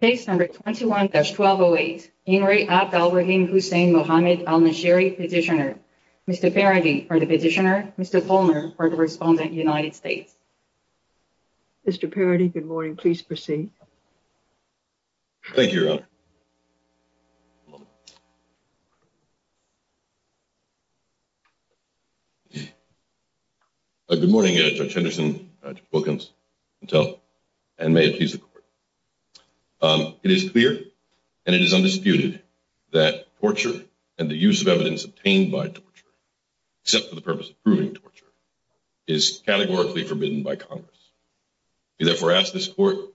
Case number 21-1208, Inri Ab Al-Rahim Hussein Muhammad Al-Nashiri, petitioner. Mr. Parody for the petitioner, Mr. Palmer for the respondent, United States. Mr. Parody, good morning. Please proceed. Thank you, Your Honor. Good morning, Judge Henderson, Judge Wilkins, and may it please the Court. It is clear and it is undisputed that torture and the use of evidence obtained by torture, except for the purpose of proving torture, is categorically forbidden by Congress. We therefore ask this will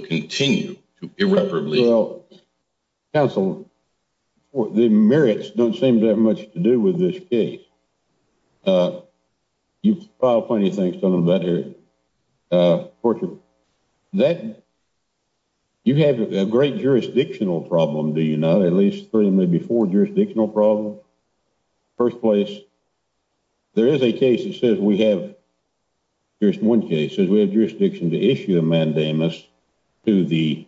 continue to irreparably. Well, counsel, the merits don't seem to have much to do with this case. You've filed plenty of things on that here. You have a great jurisdictional problem, do you not? At least three, maybe four jurisdictional problems. First place, there is a case that says we have, there's one case that says we have jurisdiction to issue a mandamus to the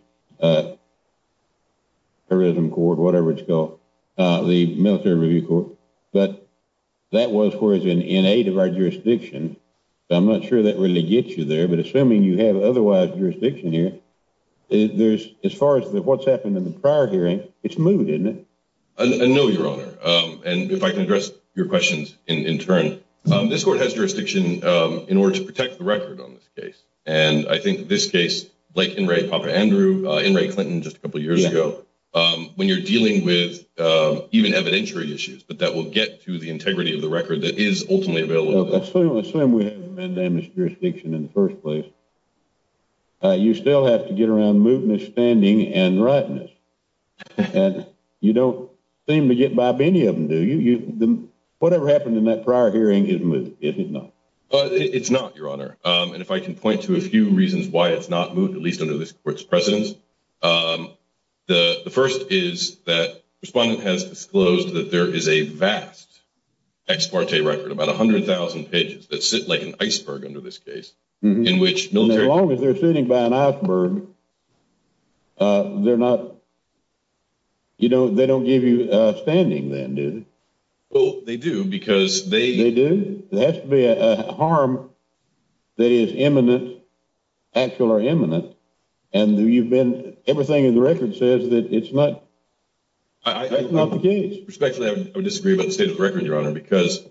terrorism court, whatever it's called, the military review court, but that was where it's in aid of our jurisdiction. I'm not sure that really gets you there, but assuming you have otherwise jurisdiction here, as far as what's happened in the prior hearing, it's moved, isn't it? No, Your Honor, and if I can address your questions in turn, this court has jurisdiction in order to protect the record on this case, and I think this case, like In re Papa Andrew, In re Clinton just a couple years ago, when you're dealing with even evidentiary issues, but that will get to the integrity of the record that is ultimately available. Assuming we have a mandamus jurisdiction in the first place, you still have to get around mootness, standing, and rightness, and you don't seem to get by many of them, do you? Whatever happened in that prior hearing is moot, is it not? It's not, Your Honor, and if I can point to a few reasons why it's not moot, at least under this court's precedence, the first is that the respondent has disclosed that there is a vast ex parte record, about 100,000 pages, that sit like an iceberg under this case. As long as they're sitting by an iceberg, they're not, you know, they don't give you standing then, do they? Well, they do, because they do. There has to be a harm that is imminent, actual or imminent, and you've been, everything in the record says that it's not the case. Respectfully, I would disagree about the record, Your Honor, because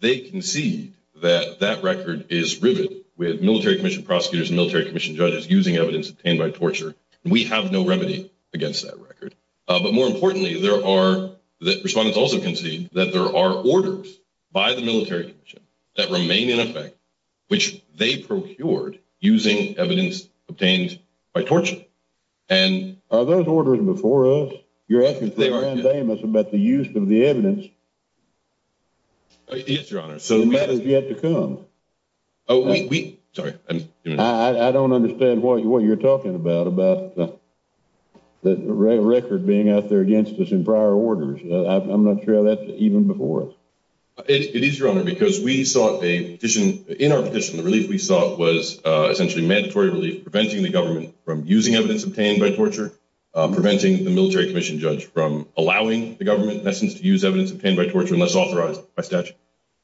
they concede that that record is riveted with military commission prosecutors and military commission judges using evidence obtained by torture, and we have no remedy against that record. But more importantly, there are, the respondents also concede that there are orders by the military commission that remain in effect, which they procured using evidence obtained by torture. Are those orders before us? You're asking for a mandamus about the use of the record? Yes, Your Honor. So that has yet to come. Oh, we, sorry. I don't understand what you're talking about, about the record being out there against us in prior orders. I'm not sure that's even before us. It is, Your Honor, because we sought a petition, in our petition, the relief we sought was essentially mandatory relief, preventing the government from using evidence obtained by torture, preventing the military commission judge from allowing the government, in essence, to use evidence obtained by torture unless authorized by statute,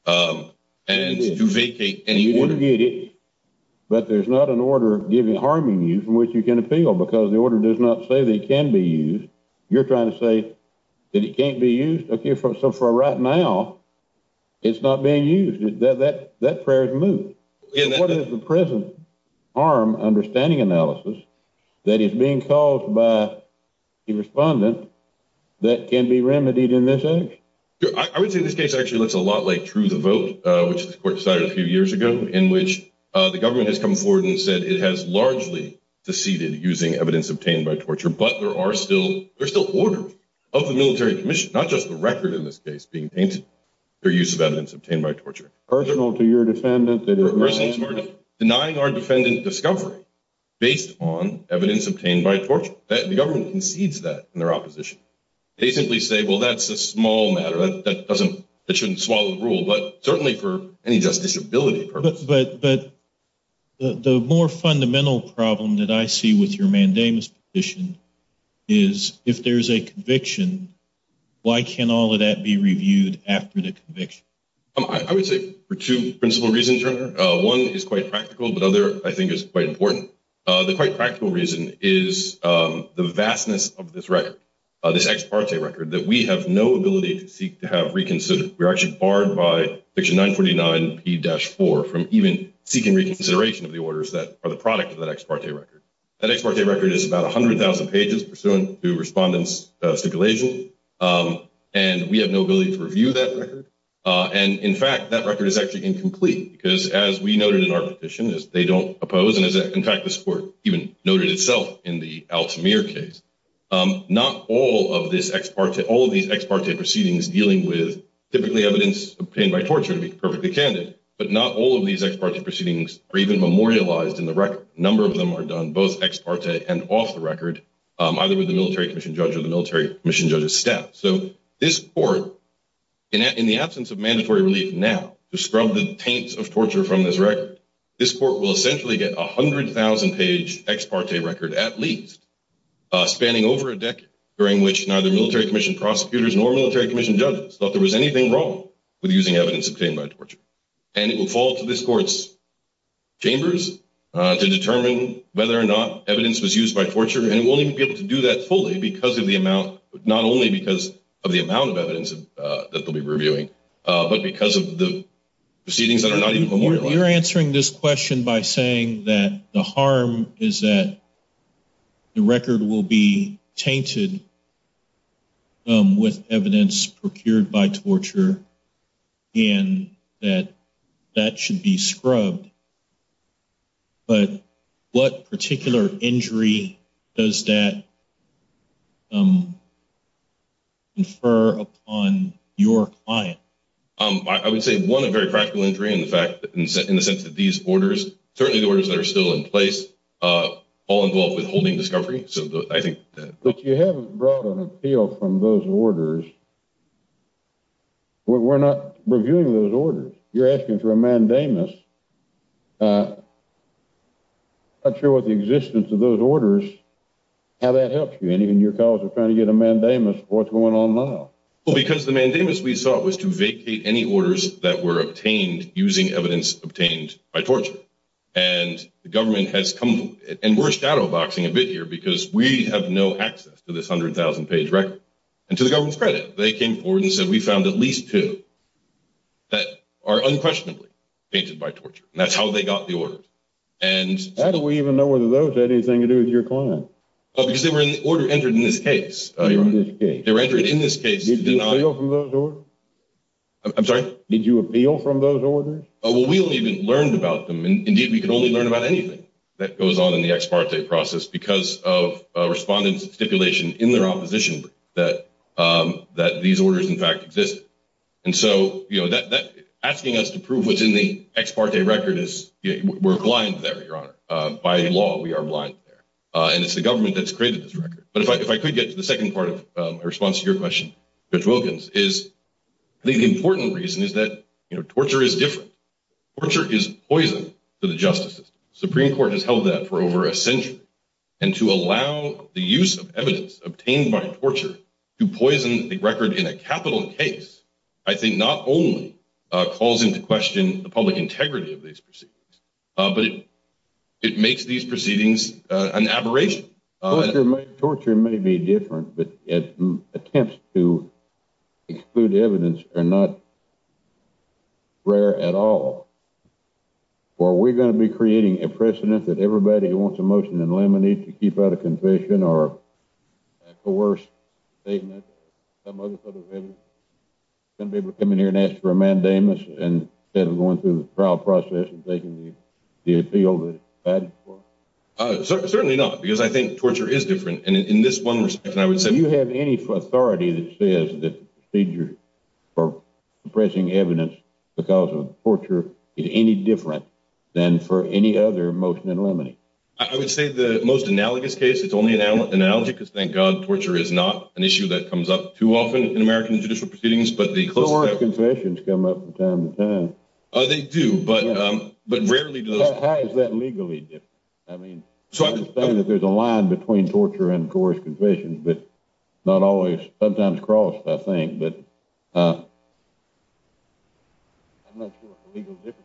and to vacate any order. But there's not an order giving, harming you from which you can appeal, because the order does not say that it can be used. You're trying to say that it can't be used? Okay, so for right now, it's not being used. That prayer is moved. What is the present harm understanding analysis that is being caused by the respondent that can be remedied in this instance? I would say this case actually looks a lot like True the Vote, which the court decided a few years ago, in which the government has come forward and said it has largely seceded using evidence obtained by torture, but there are still, there's still orders of the military commission, not just the record in this case being tainted, their use of evidence obtained by torture. Personal to your defendant? Personal to our defendant. Denying our defendant discovery based on evidence obtained by torture. The government concedes that in their opposition. They simply say, well, that's a small matter, that doesn't, that shouldn't swallow the rule, but certainly for any justice ability purpose. But the more fundamental problem that I see with your mandamus petition is, if there's a conviction, why can't all of that be reviewed after the conviction? I would say for two principal reasons. One is quite practical, but other I think is quite important. The quite practical reason is the vastness of this record, this ex parte record that we have no ability to seek to have reconsidered. We're actually barred by section 949 P-4 from even seeking reconsideration of the orders that are the product of that ex parte record. That ex parte record is about 100,000 pages pursuant to respondent's stipulation, and we have no ability to review that record. And in fact, that record is actually incomplete, because as we noted in our petition, they don't oppose, and in fact, this court even noted itself in the Altamir case. Not all of this ex parte, all of these ex parte proceedings dealing with typically evidence obtained by torture, to be perfectly candid, but not all of these ex parte proceedings are even memorialized in the record. A number of them are done both ex parte and off the record, either with the military commission judge or the military commission judge's staff. So this court, in the absence of mandatory relief now to scrub the taints of torture from this record, this court will essentially get a 100,000 page ex parte record at least, spanning over a decade, during which neither military commission prosecutors nor military commission judges thought there was anything wrong with using evidence obtained by torture. And it will fall to this court's chambers to determine whether or not evidence was used by torture, and it won't even be able to do that fully because of the amount, not only because of the amount of evidence that they'll be reviewing, but because of the proceedings that are not even memorialized. You're answering this question by saying that the harm is that the record will be tainted with evidence procured by torture and that that should be scrubbed, but what particular injury does that infer upon your client? I would say one, a very practical injury in the fact that in the sense that these orders, certainly the orders that are still in place, all involve withholding discovery. But you haven't brought an appeal from those orders. We're not reviewing those orders. You're asking for a mandamus. I'm not sure what the existence of those orders, how that helps you. And even your cause of trying to get a mandamus, what's going on now? Well, because the mandamus we sought was to vacate any orders that were obtained using evidence obtained by torture. And the government has come, and we're shadowboxing a bit here because we have no access to this hundred thousand page record. And to the government's credit, they came forward and said, we found at least two that are unquestionably painted by torture. That's how got the orders. How do we even know whether those had anything to do with your client? Oh, because they were in the order entered in this case. They were entered in this case. Did you appeal from those orders? Oh, well, we only even learned about them. Indeed, we could only learn about anything that goes on in the ex parte process because of respondents' stipulation in their opposition that these orders, in fact, exist. And so, you know, asking us to prove what's in the ex parte record is, we're blind there, Your Honor. By law, we are blind there. And it's the government that's created this record. But if I could get to the second part of my response to your question, Judge Wilkins, is the important reason is that, you know, torture is different. Torture is poison to the justice system. Supreme Court has held that for over a century. And to allow the use of evidence obtained by torture to poison the record in a capital case, I think not only calls into question the public integrity of these proceedings, but it makes these proceedings an aberration. Torture may be different, but attempts to exclude evidence are not rare at all. Or we're going to be creating a precedent that everybody who wants a motion in limine to keep out a confession or a coerced statement, some other sort of evidence, going to be able to come in here and ask for a mandamus instead of going through the trial process and taking the appeal that it's provided for? Certainly not, because I think torture is different. And in this one respect, I would say... Do you have any authority that says that the procedure for pressing evidence because of torture is any different than for any other motion in limine? I would say the most analogous case, it's only an analogy because, thank God, torture is not an issue that comes up too often in American judicial proceedings. Coerced confessions come up from time to time. They do, but rarely do those... How is that legally different? I mean, I understand that there's a line between torture and coerced confessions, but not always. Sometimes crossed, I think, but I'm not sure it's a legal difference.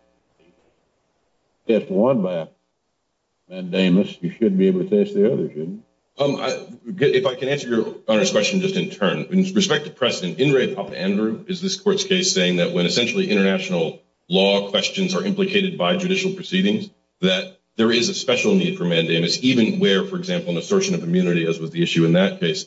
Test one by a mandamus, you shouldn't be able to judge the other, shouldn't you? If I can answer Your Honor's question just in turn. In respect to precedent, In re Papa Andrew is this court's case saying that when essentially international law questions are implicated by judicial proceedings, that there is a special need for mandamus, even where, for example, an assertion of immunity, as was the issue in that case,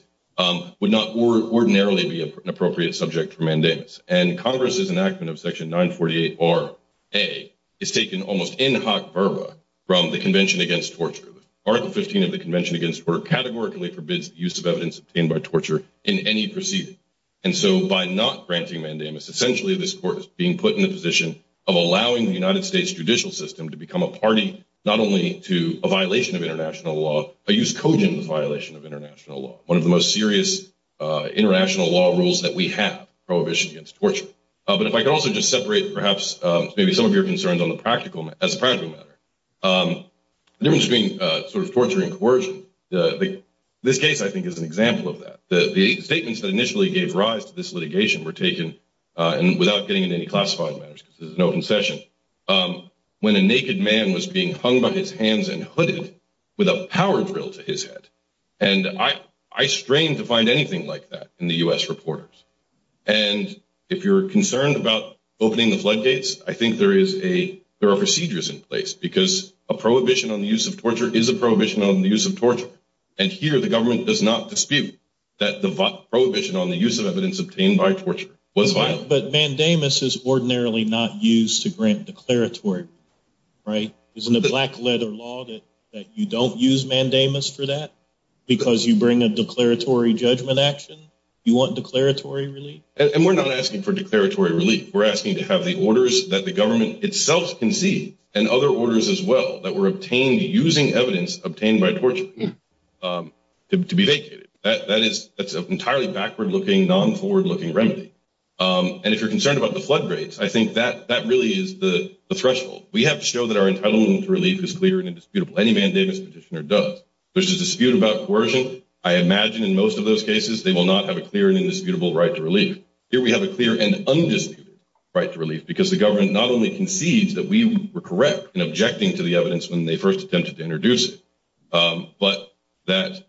would not ordinarily be an appropriate subject for mandamus. And Congress's enactment of Section 948-R-A is taken almost in hoc verba from the Convention Against Torture. Article 15 of the Convention Against Torture categorically forbids the use of evidence obtained by torture in any proceeding. And so by not granting mandamus, essentially, this court is being put in the position of allowing the United States judicial system to become a party, not only to a violation of international law, but use cogent as a violation of international law, one of the most serious international law rules that we have, prohibition against torture. But if I could also just separate perhaps maybe some of your concerns as a practical matter. The difference between sort of torture and coercion, this case I think is an example of that. The statements that initially gave rise to this litigation were taken, and without getting into any classified matters, because there's no concession, when a naked man was being hung by his hands and hooded with a power drill to his head. And I strain to find anything like that in the U.S. reporters. And if you're concerned about opening the floodgates, I think there is a, there are procedures in place, because a prohibition on the use of torture is a prohibition on the use of torture. And here the government does not dispute that the prohibition on the use of evidence obtained by torture was violated. But mandamus is ordinarily not used to grant declaratory, right? Isn't it black leather law that you don't use mandamus for that? Because you bring a declaratory judgment action? You want declaratory relief? And we're not asking for declaratory relief. We're asking to have the orders that the government itself conceived and other orders as well that were obtained using evidence obtained by torture to be vacated. That is, that's an entirely backward-looking, non-forward-looking remedy. And if you're concerned about the floodgates, I think that really is the threshold. We have to show that our entitlement to relief is clear and indisputable. Any mandamus petitioner does. There's a dispute about coercion. I imagine in most of those cases they will not have a clear and indisputable right to relief. Here we have a clear and undisputed right to relief because the government not only concedes that we were correct in objecting to the evidence when they first attempted to introduce it, but that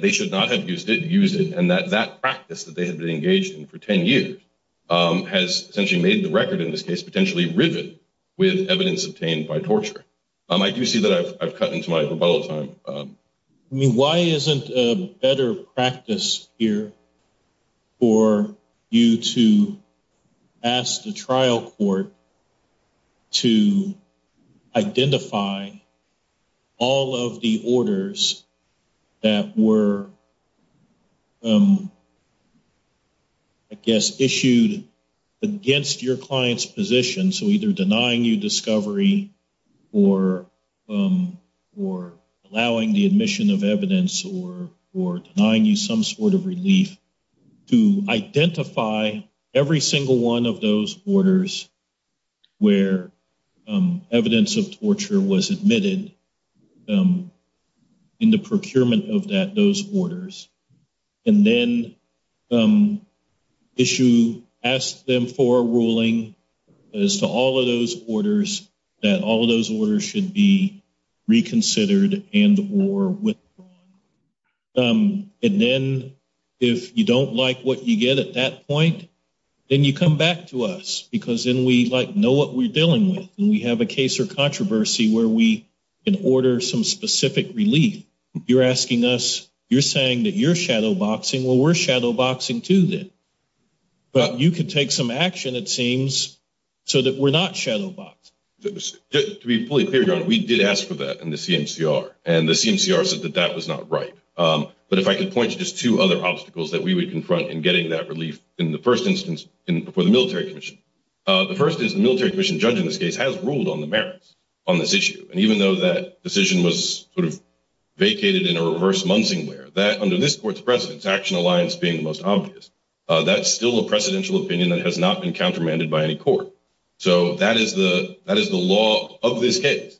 they should not have used it and that that practice that they had been engaged in for 10 years has essentially made the record in this case potentially rivet with evidence obtained by torture. I do see that I've cut into my rebuttal time. I mean, why isn't a better practice here for you to ask the trial court to identify all of the orders that were, I guess, issued against your client's position, so either denying you discovery or allowing the admission of evidence or denying you some sort of relief, to identify every single one of those orders where evidence of torture was admitted in the procurement of those orders and then issue, ask them for a ruling as to all of those orders, that all of those orders should be reconsidered and or withdrawn. And then if you don't like what you get at that point, then you come back to us because then we like know what we're dealing with and we have a case or controversy where we can order some specific relief. You're asking us, you're saying that you're shadowboxing, well we're shadowboxing too then, but you could take some action, it seems, so that we're not shadowboxed. To be fully clear, your honor, we did ask for that in the CMCR and the CMCR said that that was not right. But if I could point to just two other obstacles that we would confront in getting that relief in the first instance for the military commission. The first is the military commission judge in this case has ruled on the merits on this issue and even though that decision was sort of vacated in a reverse Munsingware, that under this court's precedence, Action Alliance being the most obvious, that's still a precedential opinion that has not been countermanded by any court. So that is the law of this case.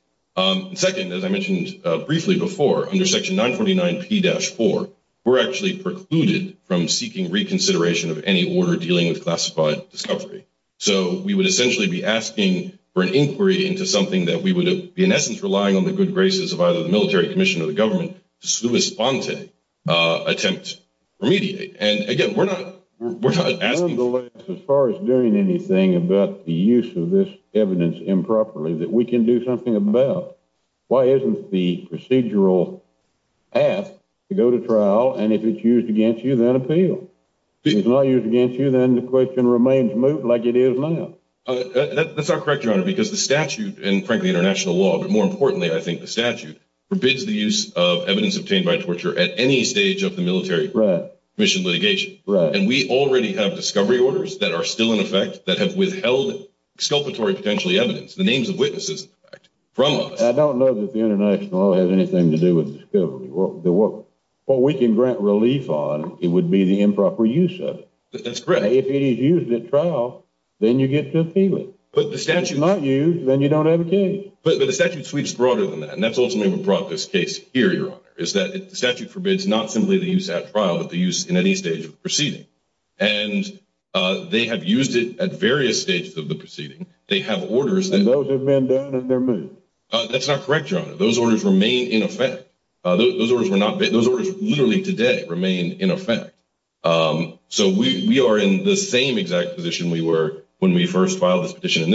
Second, as I mentioned briefly before, under section 949p-4, we're actually precluded from seeking reconsideration of any order dealing with classified discovery. So we would essentially be asking for an inquiry into something that we would be in essence relying on the good graces of either the military commission or the government to respond to attempt to remediate. And again, we're not, we're not asking. Nonetheless, as far as doing anything about the use of this evidence improperly that we can do something about, why isn't the procedural path to go to trial and if it's used against you, then appeal? If it's not used against you, then the question remains moot like it is now. That's not correct, your honor, because the statute and frankly international law, but more importantly, I think the statute, forbids the use of evidence obtained by torture at any stage of the military commission litigation. And we already have discovery orders that are still in effect that have withheld exculpatory potentially evidence, the names of witnesses in fact, from us. I don't know that the international law has anything to do with discovery. What we can grant relief on, it would be the improper use of it. That's correct. If it is used at trial, then you get to appeal it. If it's not used, then you don't have a case. But the statute sweeps broader than that. And that's ultimately what brought this case here, your honor, is that the statute forbids not simply the use at trial, but the use in any stage of the proceeding. And they have used it at various stages of the proceeding. They have orders. And those have been done and they're moot. That's not correct, your honor. Those orders remain in effect. Those orders were not, those orders literally today remain in effect. So we are in the same exact position we were when we first filed this objection to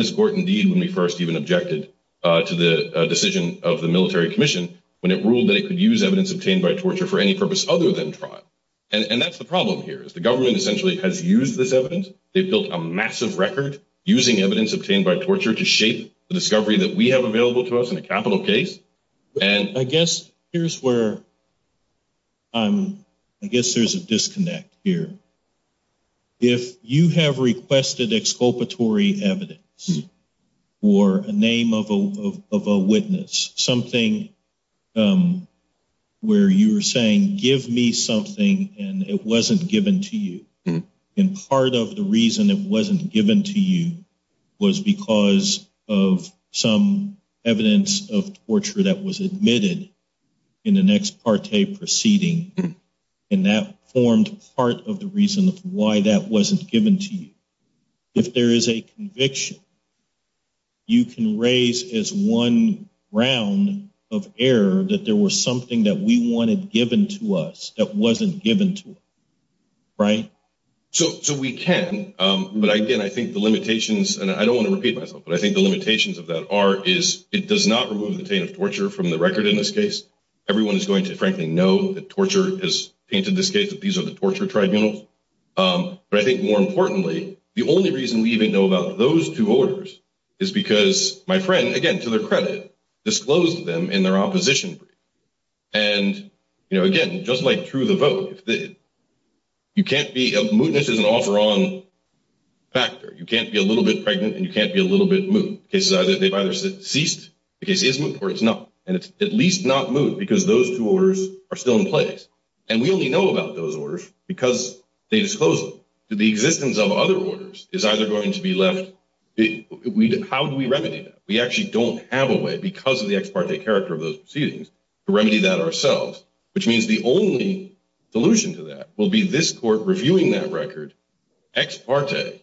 the decision of the military commission when it ruled that it could use evidence obtained by torture for any purpose other than trial. And that's the problem here. The government essentially has used this evidence. They've built a massive record using evidence obtained by torture to shape the discovery that we have available to us in a capital case. I guess here's where, I guess there's a disconnect here. If you have requested exculpatory evidence or a name of a witness, something where you were saying, give me something and it wasn't given to you. And part of the reason it wasn't given to you was because of some evidence of torture that was admitted in an ex parte proceeding. And that formed part of the reason of why that wasn't given to you. If there is a conviction, you can raise as one round of error that there was something that we wanted given to us that wasn't given to us, right? So we can, but again, I think the limitations, and I don't want to repeat myself, but I think the limitations of that are, is it everyone is going to frankly know that torture has painted this case that these are the torture tribunals. But I think more importantly, the only reason we even know about those two orders is because my friend, again, to their credit, disclosed them in their opposition brief. And again, just like through the vote, you can't be, mootness is an offer on factor. You can't be a little bit pregnant and you can't be a little bit moot. They've either ceased the case or it's not. And it's at least not moot because those two orders are still in place. And we only know about those orders because they disclosed them. The existence of other orders is either going to be left. How do we remedy that? We actually don't have a way because of the ex parte character of those proceedings to remedy that ourselves, which means the only solution to that will be this court reviewing that record ex parte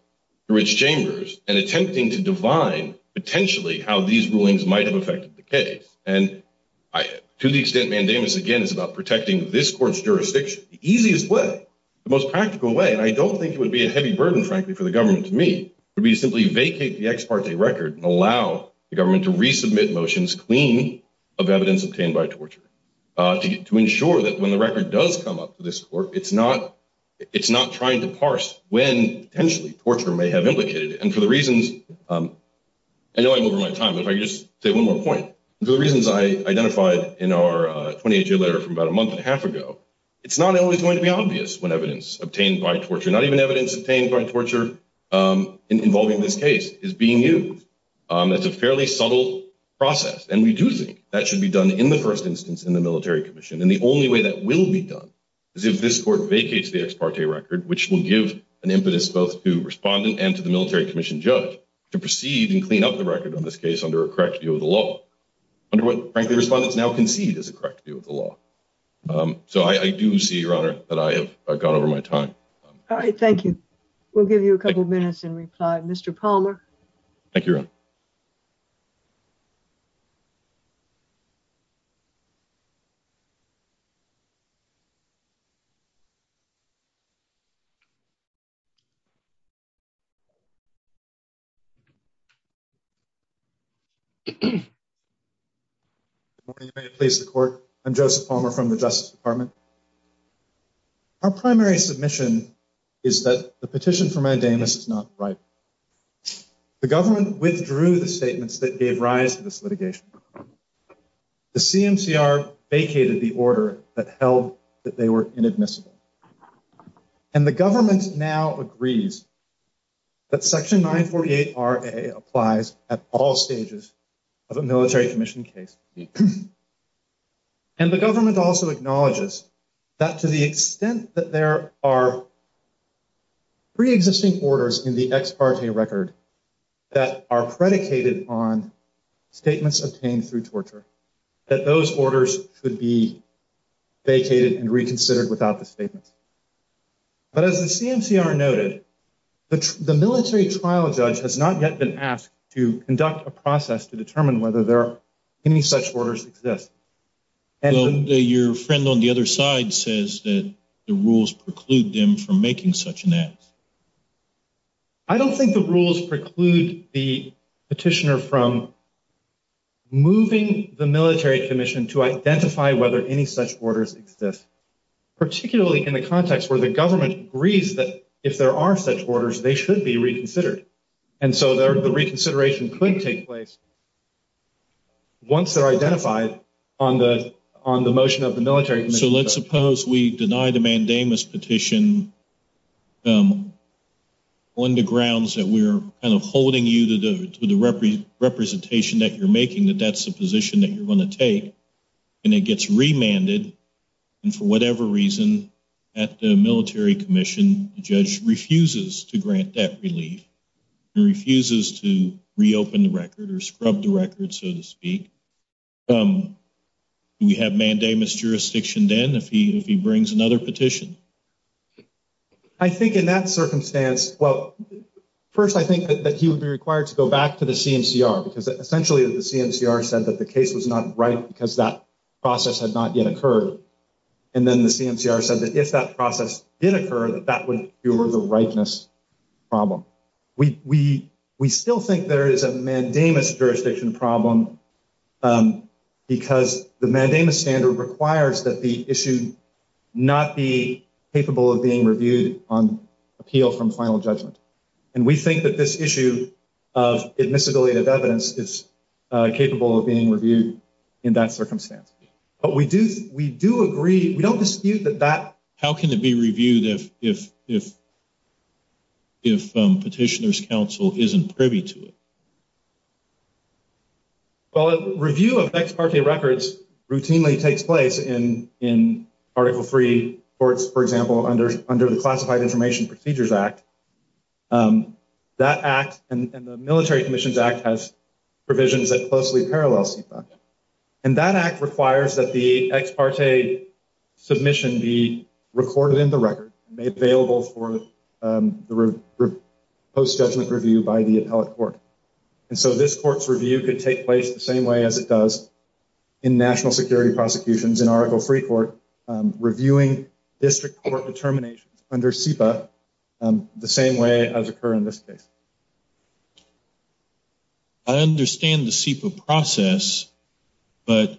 through its chambers and attempting to divine potentially how these rulings might have affected the case. And I, to the extent mandamus again is about protecting this court's jurisdiction, the easiest way, the most practical way, and I don't think it would be a heavy burden, frankly, for the government to me, would be to simply vacate the ex parte record and allow the government to resubmit motions clean of evidence obtained by torture to ensure that when the record does come up to this court, it's not trying to parse when potentially torture may have implicated it. And for the reasons, I know I'm over my time, but if I could just say one more point. For the reasons I identified in our 28-year letter from about a month and a half ago, it's not always going to be obvious when evidence obtained by torture, not even evidence obtained by torture involving this case is being used. That's a fairly subtle process. And we do think that should be done in the first instance in the military commission. And the only way that will be done is if this court vacates the ex parte record, which will give an impetus both to respondent and to the military commission judge to proceed and clean up the record on this case under a correct view of the law. Under what, frankly, respondents now concede is a correct view of the law. So I do see, Your Honor, that I have gone over my time. All right. Thank you. We'll give you a couple of minutes in reply. Mr. Palmer. Thank you, Your Honor. Good morning. May it please the court. I'm Joseph Palmer from the Justice Department. Our primary submission is that the petition for mandamus is not right. The government withdrew the statements that gave rise to this litigation. The CMCR vacated the order that held that they were inadmissible. And the government now agrees that Section 948RA applies at all stages of a military commission case. And the government also acknowledges that to the extent that there are pre-existing orders in the ex parte record that are predicated on statements obtained through torture, that those orders should be vacated and reconsidered without the statements. But as the CMCR noted, the military trial judge has not yet been asked to conduct a process to make sure that such orders exist. Your friend on the other side says that the rules preclude them from making such an act. I don't think the rules preclude the petitioner from moving the military commission to identify whether any such orders exist, particularly in the context where the government agrees that if there are such orders, they should be reconsidered. And so the reconsideration could take place once they're identified on the motion of the military commission. So let's suppose we deny the mandamus petition on the grounds that we're kind of holding you to the representation that you're making, that that's the position that you're going to take. And it gets remanded. And for whatever reason at the military commission, the judge refuses to grant that relief and refuses to reopen the record or scrub the record, so to speak. Do we have mandamus jurisdiction then if he brings another petition? I think in that circumstance, well, first I think that he would be required to go back to the CMCR because essentially the CMCR said that the case was not right because that process had not yet occurred. And then the CMCR said that if that process did occur, that that would be the rightness problem. We still think there is a mandamus jurisdiction problem because the mandamus standard requires that the issue not be capable of being reviewed on appeal from final judgment. And we think that this issue of admissibility of evidence is capable of being reviewed in that circumstance. But we do agree, we don't dispute that that- How can it be reviewed if petitioner's counsel isn't privy to it? Well, a review of ex parte records routinely takes place in Article III courts, for example, under the Classified Information Procedures Act. That act and the Military Commissions Act has provisions that closely parallel CPAC. And that act requires that the ex parte submission be recorded in the record, made available for the post-judgment review by the appellate court. And so this court's review could take place the same way as it does in national security prosecutions in Article III court, reviewing district court determinations under CEPA, the same way as occur in this case. I understand the CEPA process, but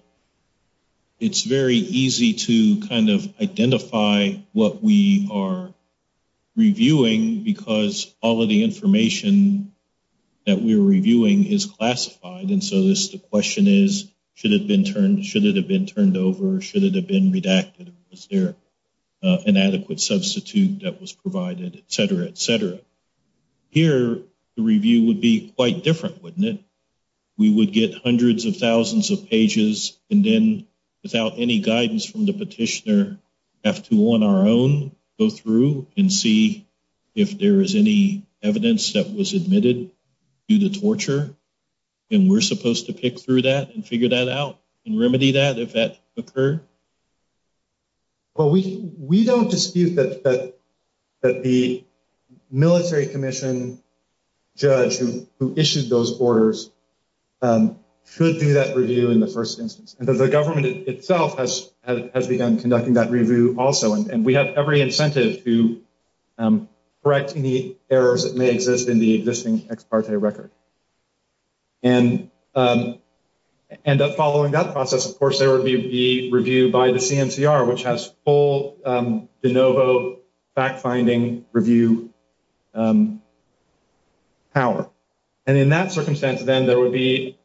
it's very easy to kind of identify what we are reviewing because all of the information that we're reviewing is classified. And so the question is, should it have been turned- over? Should it have been redacted? Was there an adequate substitute that was provided, et cetera, et cetera. Here, the review would be quite different, wouldn't it? We would get hundreds of thousands of pages and then, without any guidance from the petitioner, have to, on our own, go through and see if there is any evidence that was admitted due to torture. And we're supposed to pick through that and figure that out and remedy that if that occurred? Well, we don't dispute that the military commission judge who issued those orders should do that review in the first instance. And the government itself has begun conducting that review also. And we have every incentive to correct any errors that may exist in the existing record. And following that process, of course, there would be the review by the CMCR, which has full de novo fact-finding review power. And in that circumstance, then, there would be,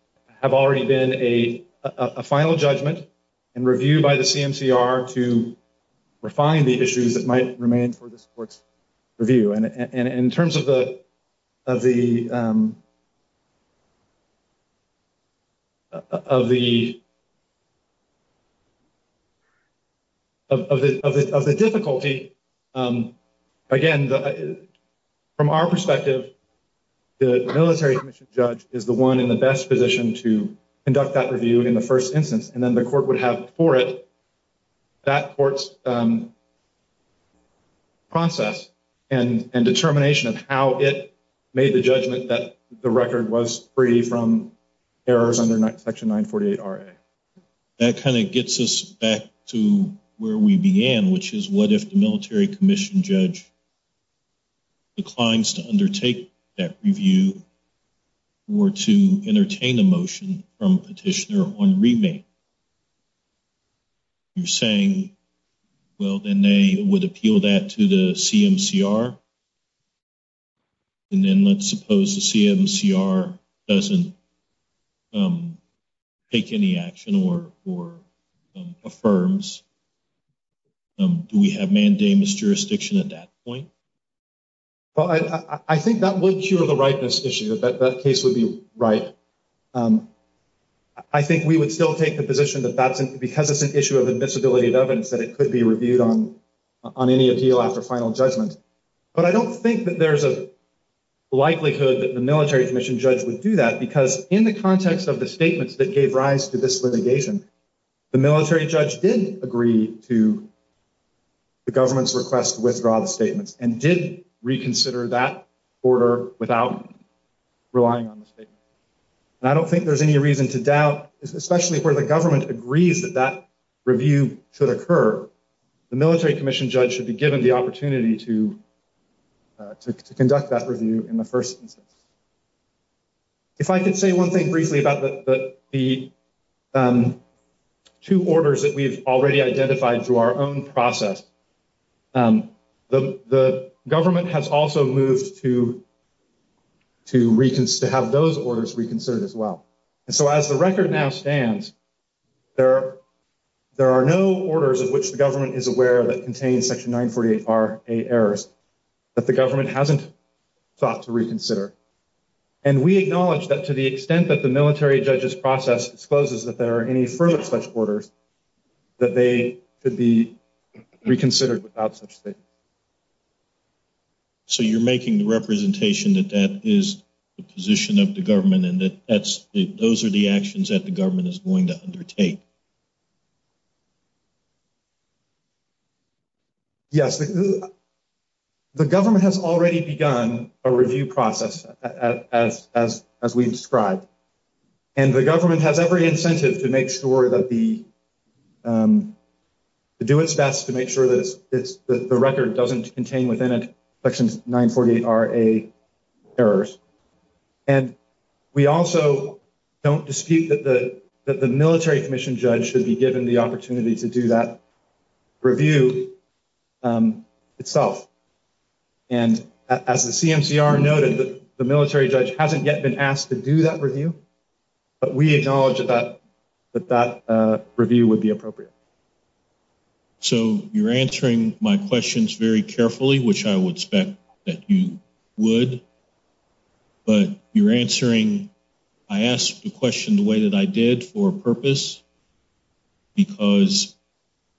have already been a final judgment and review by the CMCR to refine the issues that might remain for this court's review. And in terms of the difficulty, again, from our perspective, the military commission judge is the one in the best position to conduct that review in the first instance. And then the court would have for it that court's process and determination of how it made the judgment that the record was free from errors under Section 948RA. That kind of gets us back to where we began, which is what if the military commission judge declines to undertake that review or to entertain a motion from a petitioner on remand? You're saying, well, then they would appeal that to the CMCR. And then let's suppose the CMCR doesn't take any action or affirms. Do we have mandamus jurisdiction at that point? Well, I think that would cure the ripeness issue. That case would be ripe. I think we would still take the position that that's because it's an issue of admissibility of evidence that it could be reviewed on any appeal after final judgment. But I don't think that there's a likelihood that the military commission judge would do that because in the context of the statements that agreed to the government's request to withdraw the statements and did reconsider that order without relying on the statement. And I don't think there's any reason to doubt, especially where the government agrees that that review should occur, the military commission judge should be given the opportunity to conduct that review in the first instance. If I could say one briefly about the two orders that we've already identified through our own process. The government has also moved to have those orders reconsidered as well. And so as the record now stands, there are no orders of which the government is aware that contains section 948RA errors that the government hasn't thought to reconsider. And we acknowledge that to the extent that the military judges process exposes that there are any further such orders that they could be reconsidered without such state. So you're making the representation that that is the position of the government and that that's those are the actions that the government is going to undertake. Yes, the government has already begun a review process as we described. And the government has every incentive to make sure that the do its best to make sure that the record doesn't contain within section 948RA errors. And we also don't dispute that the military commission judge should be given the opportunity to do that review itself. And as the CMCR noted, the military judge hasn't yet been asked to do that review. But we acknowledge that that review would be appropriate. So you're answering my questions very carefully, which I would expect that you would. But you're answering, I asked the question the way that I did for purpose, because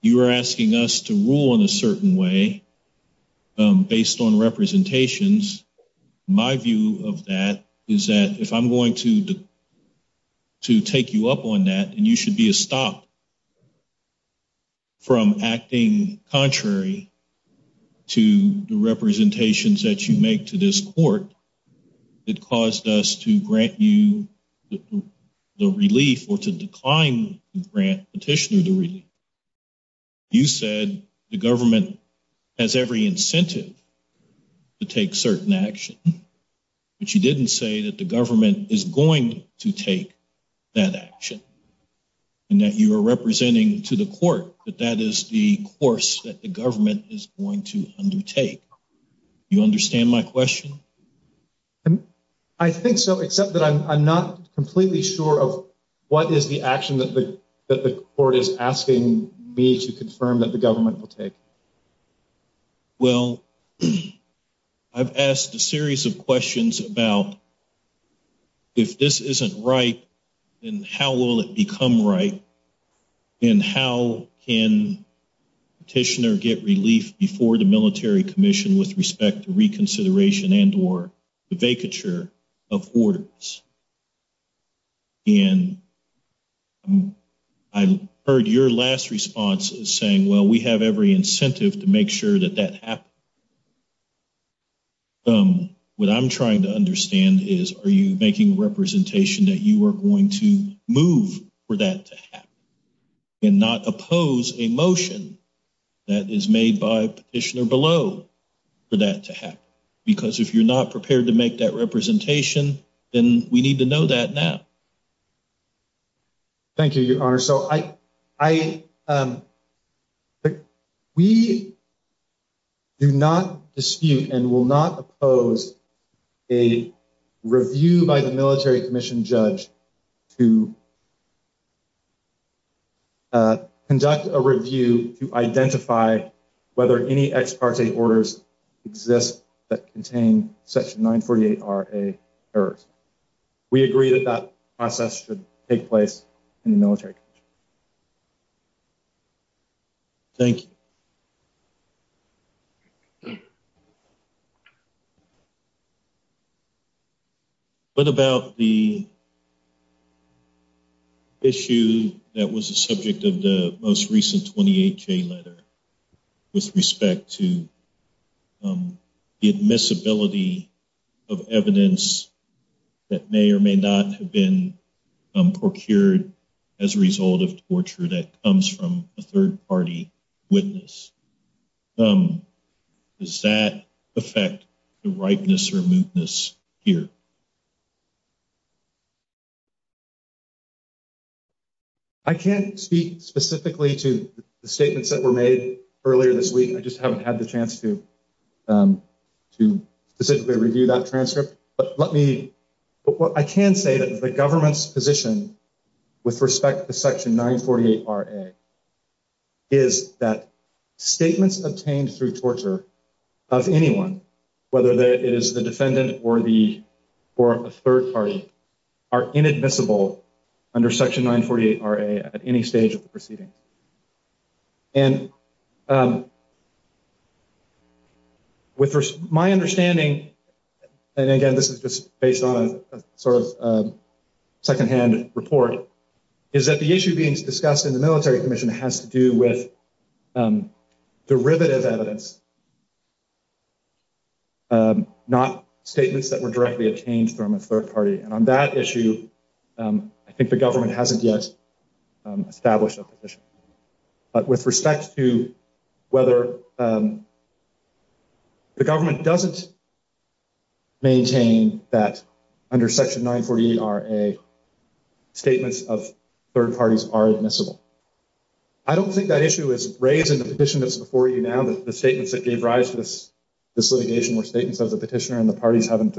you are asking us to rule in a certain way based on representations. My view of that is that if I'm going to take you up on that, you should be stopped from acting contrary to the representations that you make to this court that caused us to grant you the relief or to decline to grant petitioner the relief. You said the government has every incentive to take certain action. But you didn't say that the and that you were representing to the court, that that is the course that the government is going to undertake. You understand my question? I think so, except that I'm not completely sure of what is the action that the court is asking me to confirm that the government will take. Well, I've asked a series of questions about if this isn't right, then how will it become right? And how can petitioner get relief before the military commission with respect to reconsideration and or the vacature of orders? And I heard your last response saying, well, we have every incentive to make sure that that happens. What I'm trying to understand is, are you making a representation that you are going to move for that to happen and not oppose a motion that is made by petitioner below for that to happen? Because if you're not prepared to make that representation, then we need to know that now. Thank you, your honor. So I, we do not dispute and will not oppose a review by the military commission judge to conduct a review to identify whether any ex parte orders exist that contain section 948RA errors. We agree that that process should take place in the military. Thank you. What about the issue that was the subject of the most recent 28-J letter with respect to the admissibility of evidence that may or may not have been procured as a result of torture that comes from a third party witness. Does that affect the ripeness or mootness here? I can't speak specifically to the statements that were made earlier this week. I just haven't had the chance to specifically review that transcript, but let me, I can say that the government's with respect to section 948RA is that statements obtained through torture of anyone, whether it is the defendant or the, or a third party are inadmissible under section 948RA at any stage of the proceedings. And with my understanding, and again, this is just based on a sort of report, is that the issue being discussed in the military commission has to do with derivative evidence, not statements that were directly obtained from a third party. And on that issue, I think the government hasn't yet established a position. But with respect to whether the government doesn't maintain that under section 948RA, statements of third parties are admissible. I don't think that issue is raised in the petition that's before you now, that the statements that gave rise to this litigation were statements of the petitioner and the parties haven't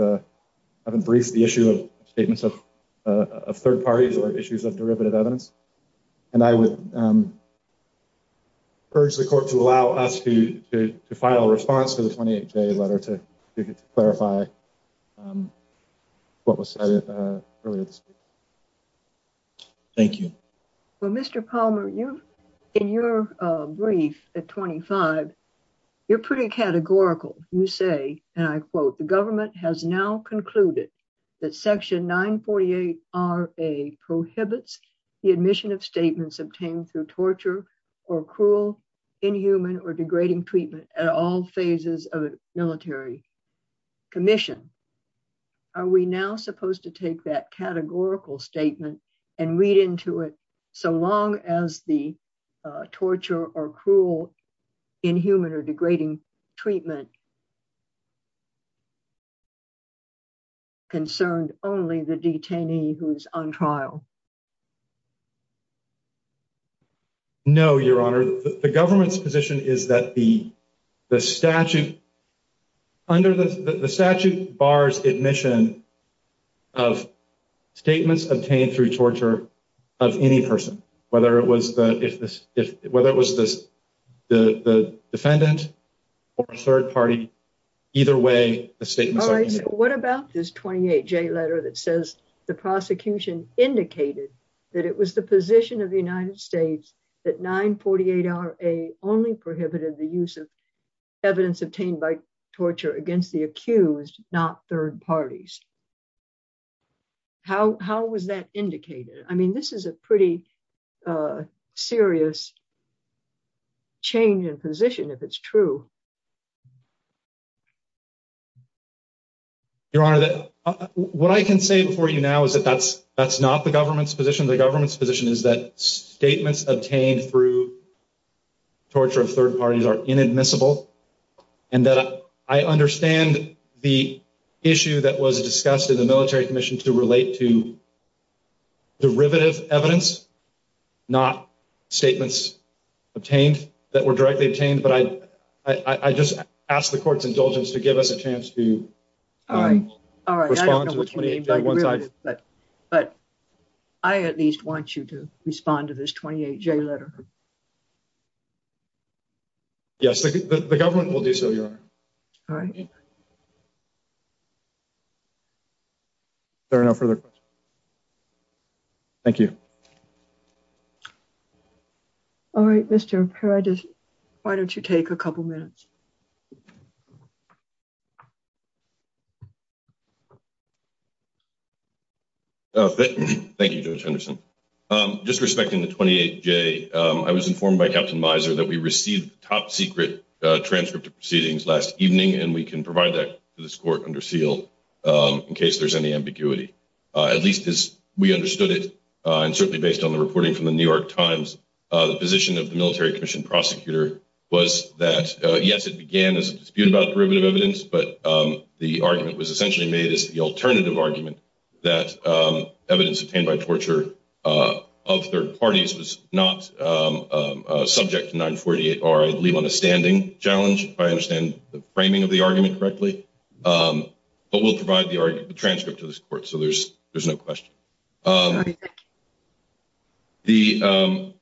briefed the issue of statements of third parties or issues of to file a response to the 28 day letter to clarify what was said earlier this week. Thank you. Well, Mr. Palmer, you, in your brief at 25, you're pretty categorical. You say, and I quote, the government has now concluded that section 948RA prohibits the admission of degrading treatment at all phases of a military commission. Are we now supposed to take that categorical statement and read into it so long as the torture or cruel, inhuman or degrading treatment concerned only the detainee who is on trial? No, Your Honor. The government's position is that the statute, under the statute bars admission of statements obtained through torture of any person, whether it was the defendant or a third party, either way, the statements are admissible. All right, so what about this 28-J letter that says the prosecution indicates that it was the position of the United States that 948RA only prohibited the use of evidence obtained by torture against the accused, not third parties. How was that indicated? I mean, this is a pretty serious change in position, if it's true. Your Honor, what I can say before you now is that that's not the government's position. The government's position is that statements obtained through torture of third parties are inadmissible and that I understand the issue that was discussed in the military commission to relate to derivative evidence, not statements obtained that were directly obtained, but I just ask the court's indulgence to give us a chance to respond to the 28-J one-sided. But I at least want you to respond to this 28-J letter. Yes, the government will do so, Your Honor. All right. Is there no further questions? Thank you. All right, Mr. Pera, why don't you take a couple minutes? Thank you, Judge Henderson. Just respecting the 28-J, I was informed by Captain Miser that we can provide that to this court under seal in case there's any ambiguity. At least as we understood it, and certainly based on the reporting from the New York Times, the position of the military commission prosecutor was that, yes, it began as a dispute about derivative evidence, but the argument was essentially made as the alternative argument that evidence obtained by torture of third parties was not subject to 948R. I'd leave on a standing challenge if I understand the framing of the argument correctly, but we'll provide the transcript to this court, so there's no question. I want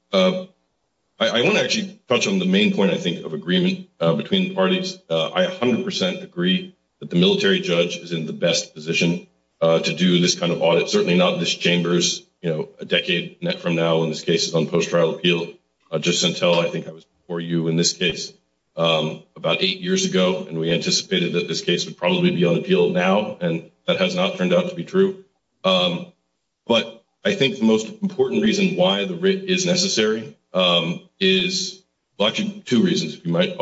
to actually touch on the main point, I think, of agreement between the parties. I 100% agree that the military judge is in the best position to do this kind of audit, certainly not this chamber's, you know, a decade from now when this case is on post-trial appeal, just until I think I was before you in this case about eight years ago, and we anticipated that this case would probably be on appeal now, and that has not turned out to be true. But I think the most important reason why the writ is necessary is actually two reasons, if you might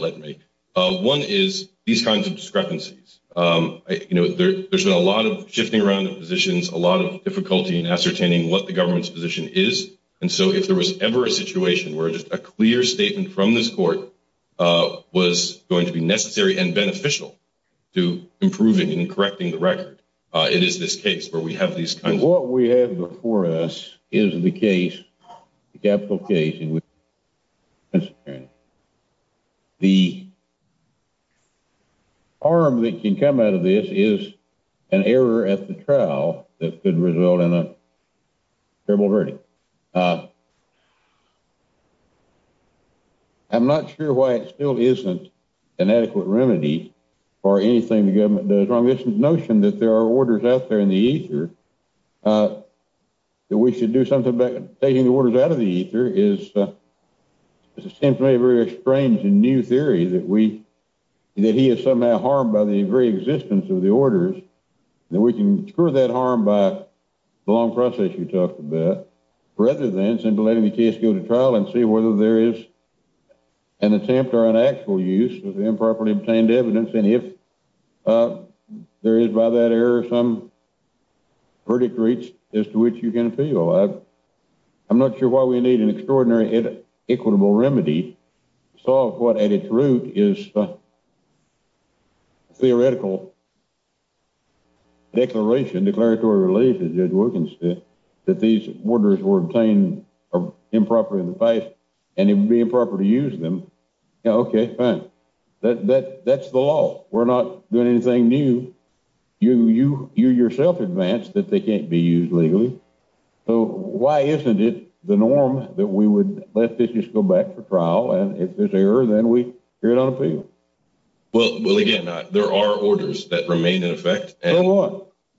let me. One is these kinds of discrepancies. You know, there's been a lot of shifting around positions, a lot of difficulty in ascertaining what the government's position is, and so if there was ever a situation where just a clear statement from this court was going to be necessary and beneficial to improving and correcting the record, it is this case where we have these kinds of... What we have before us is the case, the capital case, in which the the arm that can come out of this is an error at the trial that could result in a terrible verdict. I'm not sure why it still isn't an adequate remedy for anything the government does wrong. This notion that there are orders out there in the ether, that we should do something about taking the orders out of the ether, seems to me a very strange and new theory that we... that he is somehow harmed by the very existence of the orders, that we can cure that harm by the long process you talked about, rather than simply letting the case go to trial and see whether there is an attempt or an actual use of the improperly obtained evidence, and if there is by that error some verdict reached as to which you can appeal. I'm not sure why we need an extraordinary equitable remedy to solve what at its root is a theoretical declaration, declaratory relief, as Judge Wilkins said, that these orders were obtained improperly in the past, and it would be improper to use them. Okay, fine. That's the law. We're not doing anything new. You yourself advanced that they can't be used legally, so why isn't it the norm that we would let this just go back for trial, and if there's error, then we hear it on appeal? Well, again, there are orders that remain in effect. So what?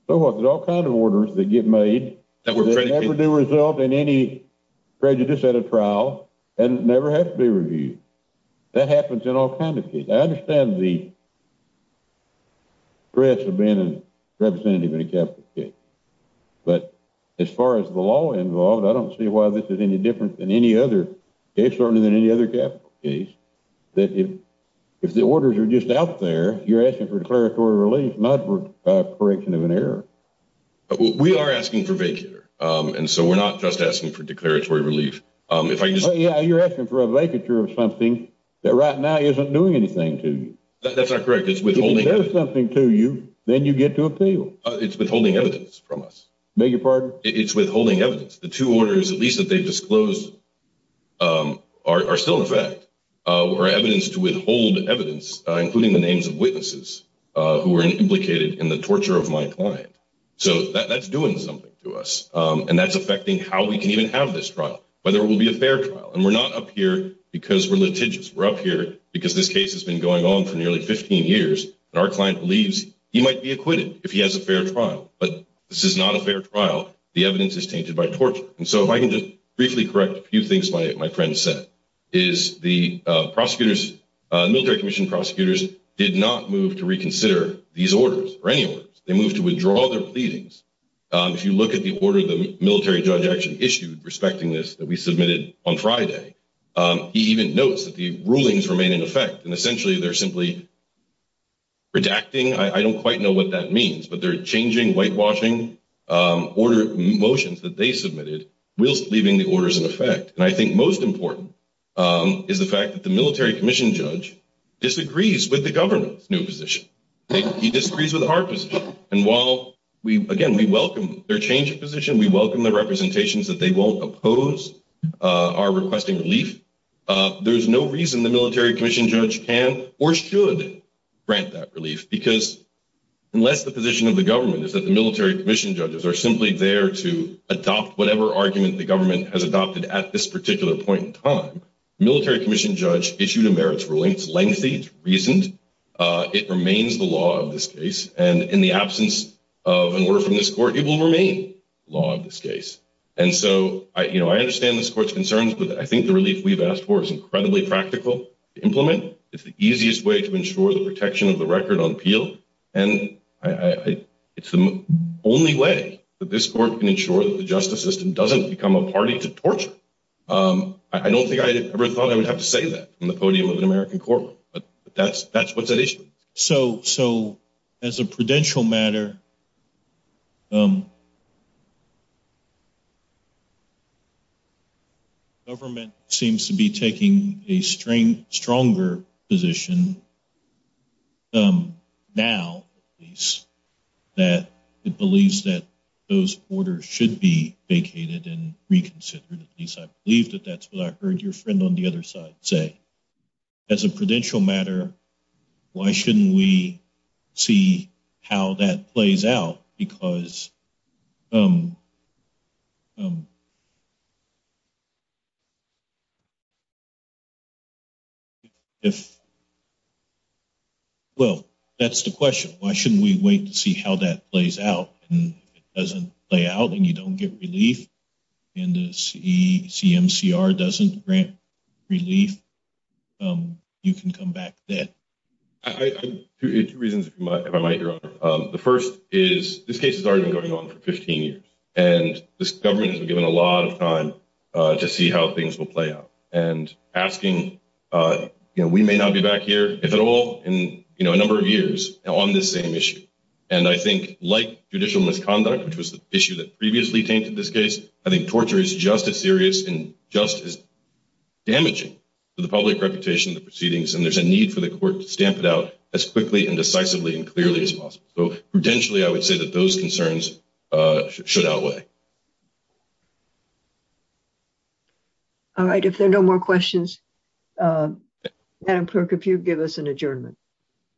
So what? There's all kinds of orders that get made that never do result in any prejudice at a trial and never have to be reviewed. That happens in all kinds of cases. I understand the threats of being a representative in a capital case, but as far as the law involved, I don't see why this is any different than any other case, certainly than any other capital case, that if the orders are just out there, you're asking for declaratory relief, not for a correction of an error. We are asking for vague here, and so we're not just asking for declaratory relief. Yeah, you're asking for a vacature of something that right now isn't doing anything to you. That's not correct. It's withholding. If it does something to you, then you get to appeal. It's withholding evidence from us. Beg your pardon? It's withholding evidence. The two orders, at least that they've disclosed, are still in effect. We're evidence to withhold evidence, including the names of witnesses who were implicated in the torture of my client. So that's doing something to us, and that's affecting how we can even have this trial. Whether it will be a fair trial, and we're not up here because we're litigious. We're up here because this case has been going on for nearly 15 years, and our client believes he might be acquitted if he has a fair trial, but this is not a fair trial. The evidence is tainted by torture, and so if I can just briefly correct a few things my friend said, is the military commission prosecutors did not move to reconsider these orders or any orders. They moved to withdraw their pleadings. If you look at the order the military judge actually issued respecting this, that we submitted on Friday, he even notes that the rulings remain in effect, and essentially they're simply redacting. I don't quite know what that means, but they're changing whitewashing order motions that they submitted whilst leaving the orders in effect, and I think most important is the fact that the military commission judge disagrees with the government's new position. He disagrees with our position, and while we, again, we welcome their change of position, we welcome the representations that they won't oppose our requesting relief, there's no reason the military commission judge can or should grant that relief, because unless the position of the government is that the military commission judges are simply there to adopt whatever argument the government has adopted at this particular point in time, military commission judge issued a merits ruling. It's lengthy. It's recent. It remains the law of this case, and in the absence of an order from this court, it will remain the law of this case, and so I understand this court's concerns, but I think the relief we've asked for is incredibly practical to implement. It's the easiest way to ensure the protection of the record on appeal, and it's the only way that this court can ensure that the justice system doesn't become a party to torture. I don't think I ever thought I would have to go back to the American court, but that's what's at issue. So as a prudential matter, government seems to be taking a stronger position now, at least, that it believes that those orders should be vacated and reconsidered. At least I believe that that's what I heard your friend on the other side say. As a prudential matter, why shouldn't we see how that plays out, because if, well, that's the question. Why shouldn't we wait to see how that plays out, and if it doesn't play out, and you don't get relief, and the CMCR doesn't grant relief, you can come back dead. I have two reasons, if I might, Your Honor. The first is this case has already been going on for 15 years, and this government has been given a lot of time to see how things will play out, and asking, you know, we may not be back here, if at all, in, you know, a number of years on this same And I think like judicial misconduct, which was the issue that previously tainted this case, I think torture is just as serious and just as damaging to the public reputation of the proceedings, and there's a need for the court to stamp it out as quickly and decisively and clearly as possible. So prudentially, I would say that those concerns should outweigh. All right, if there are no more questions, Madam Clerk, if you'd give us an adjournment.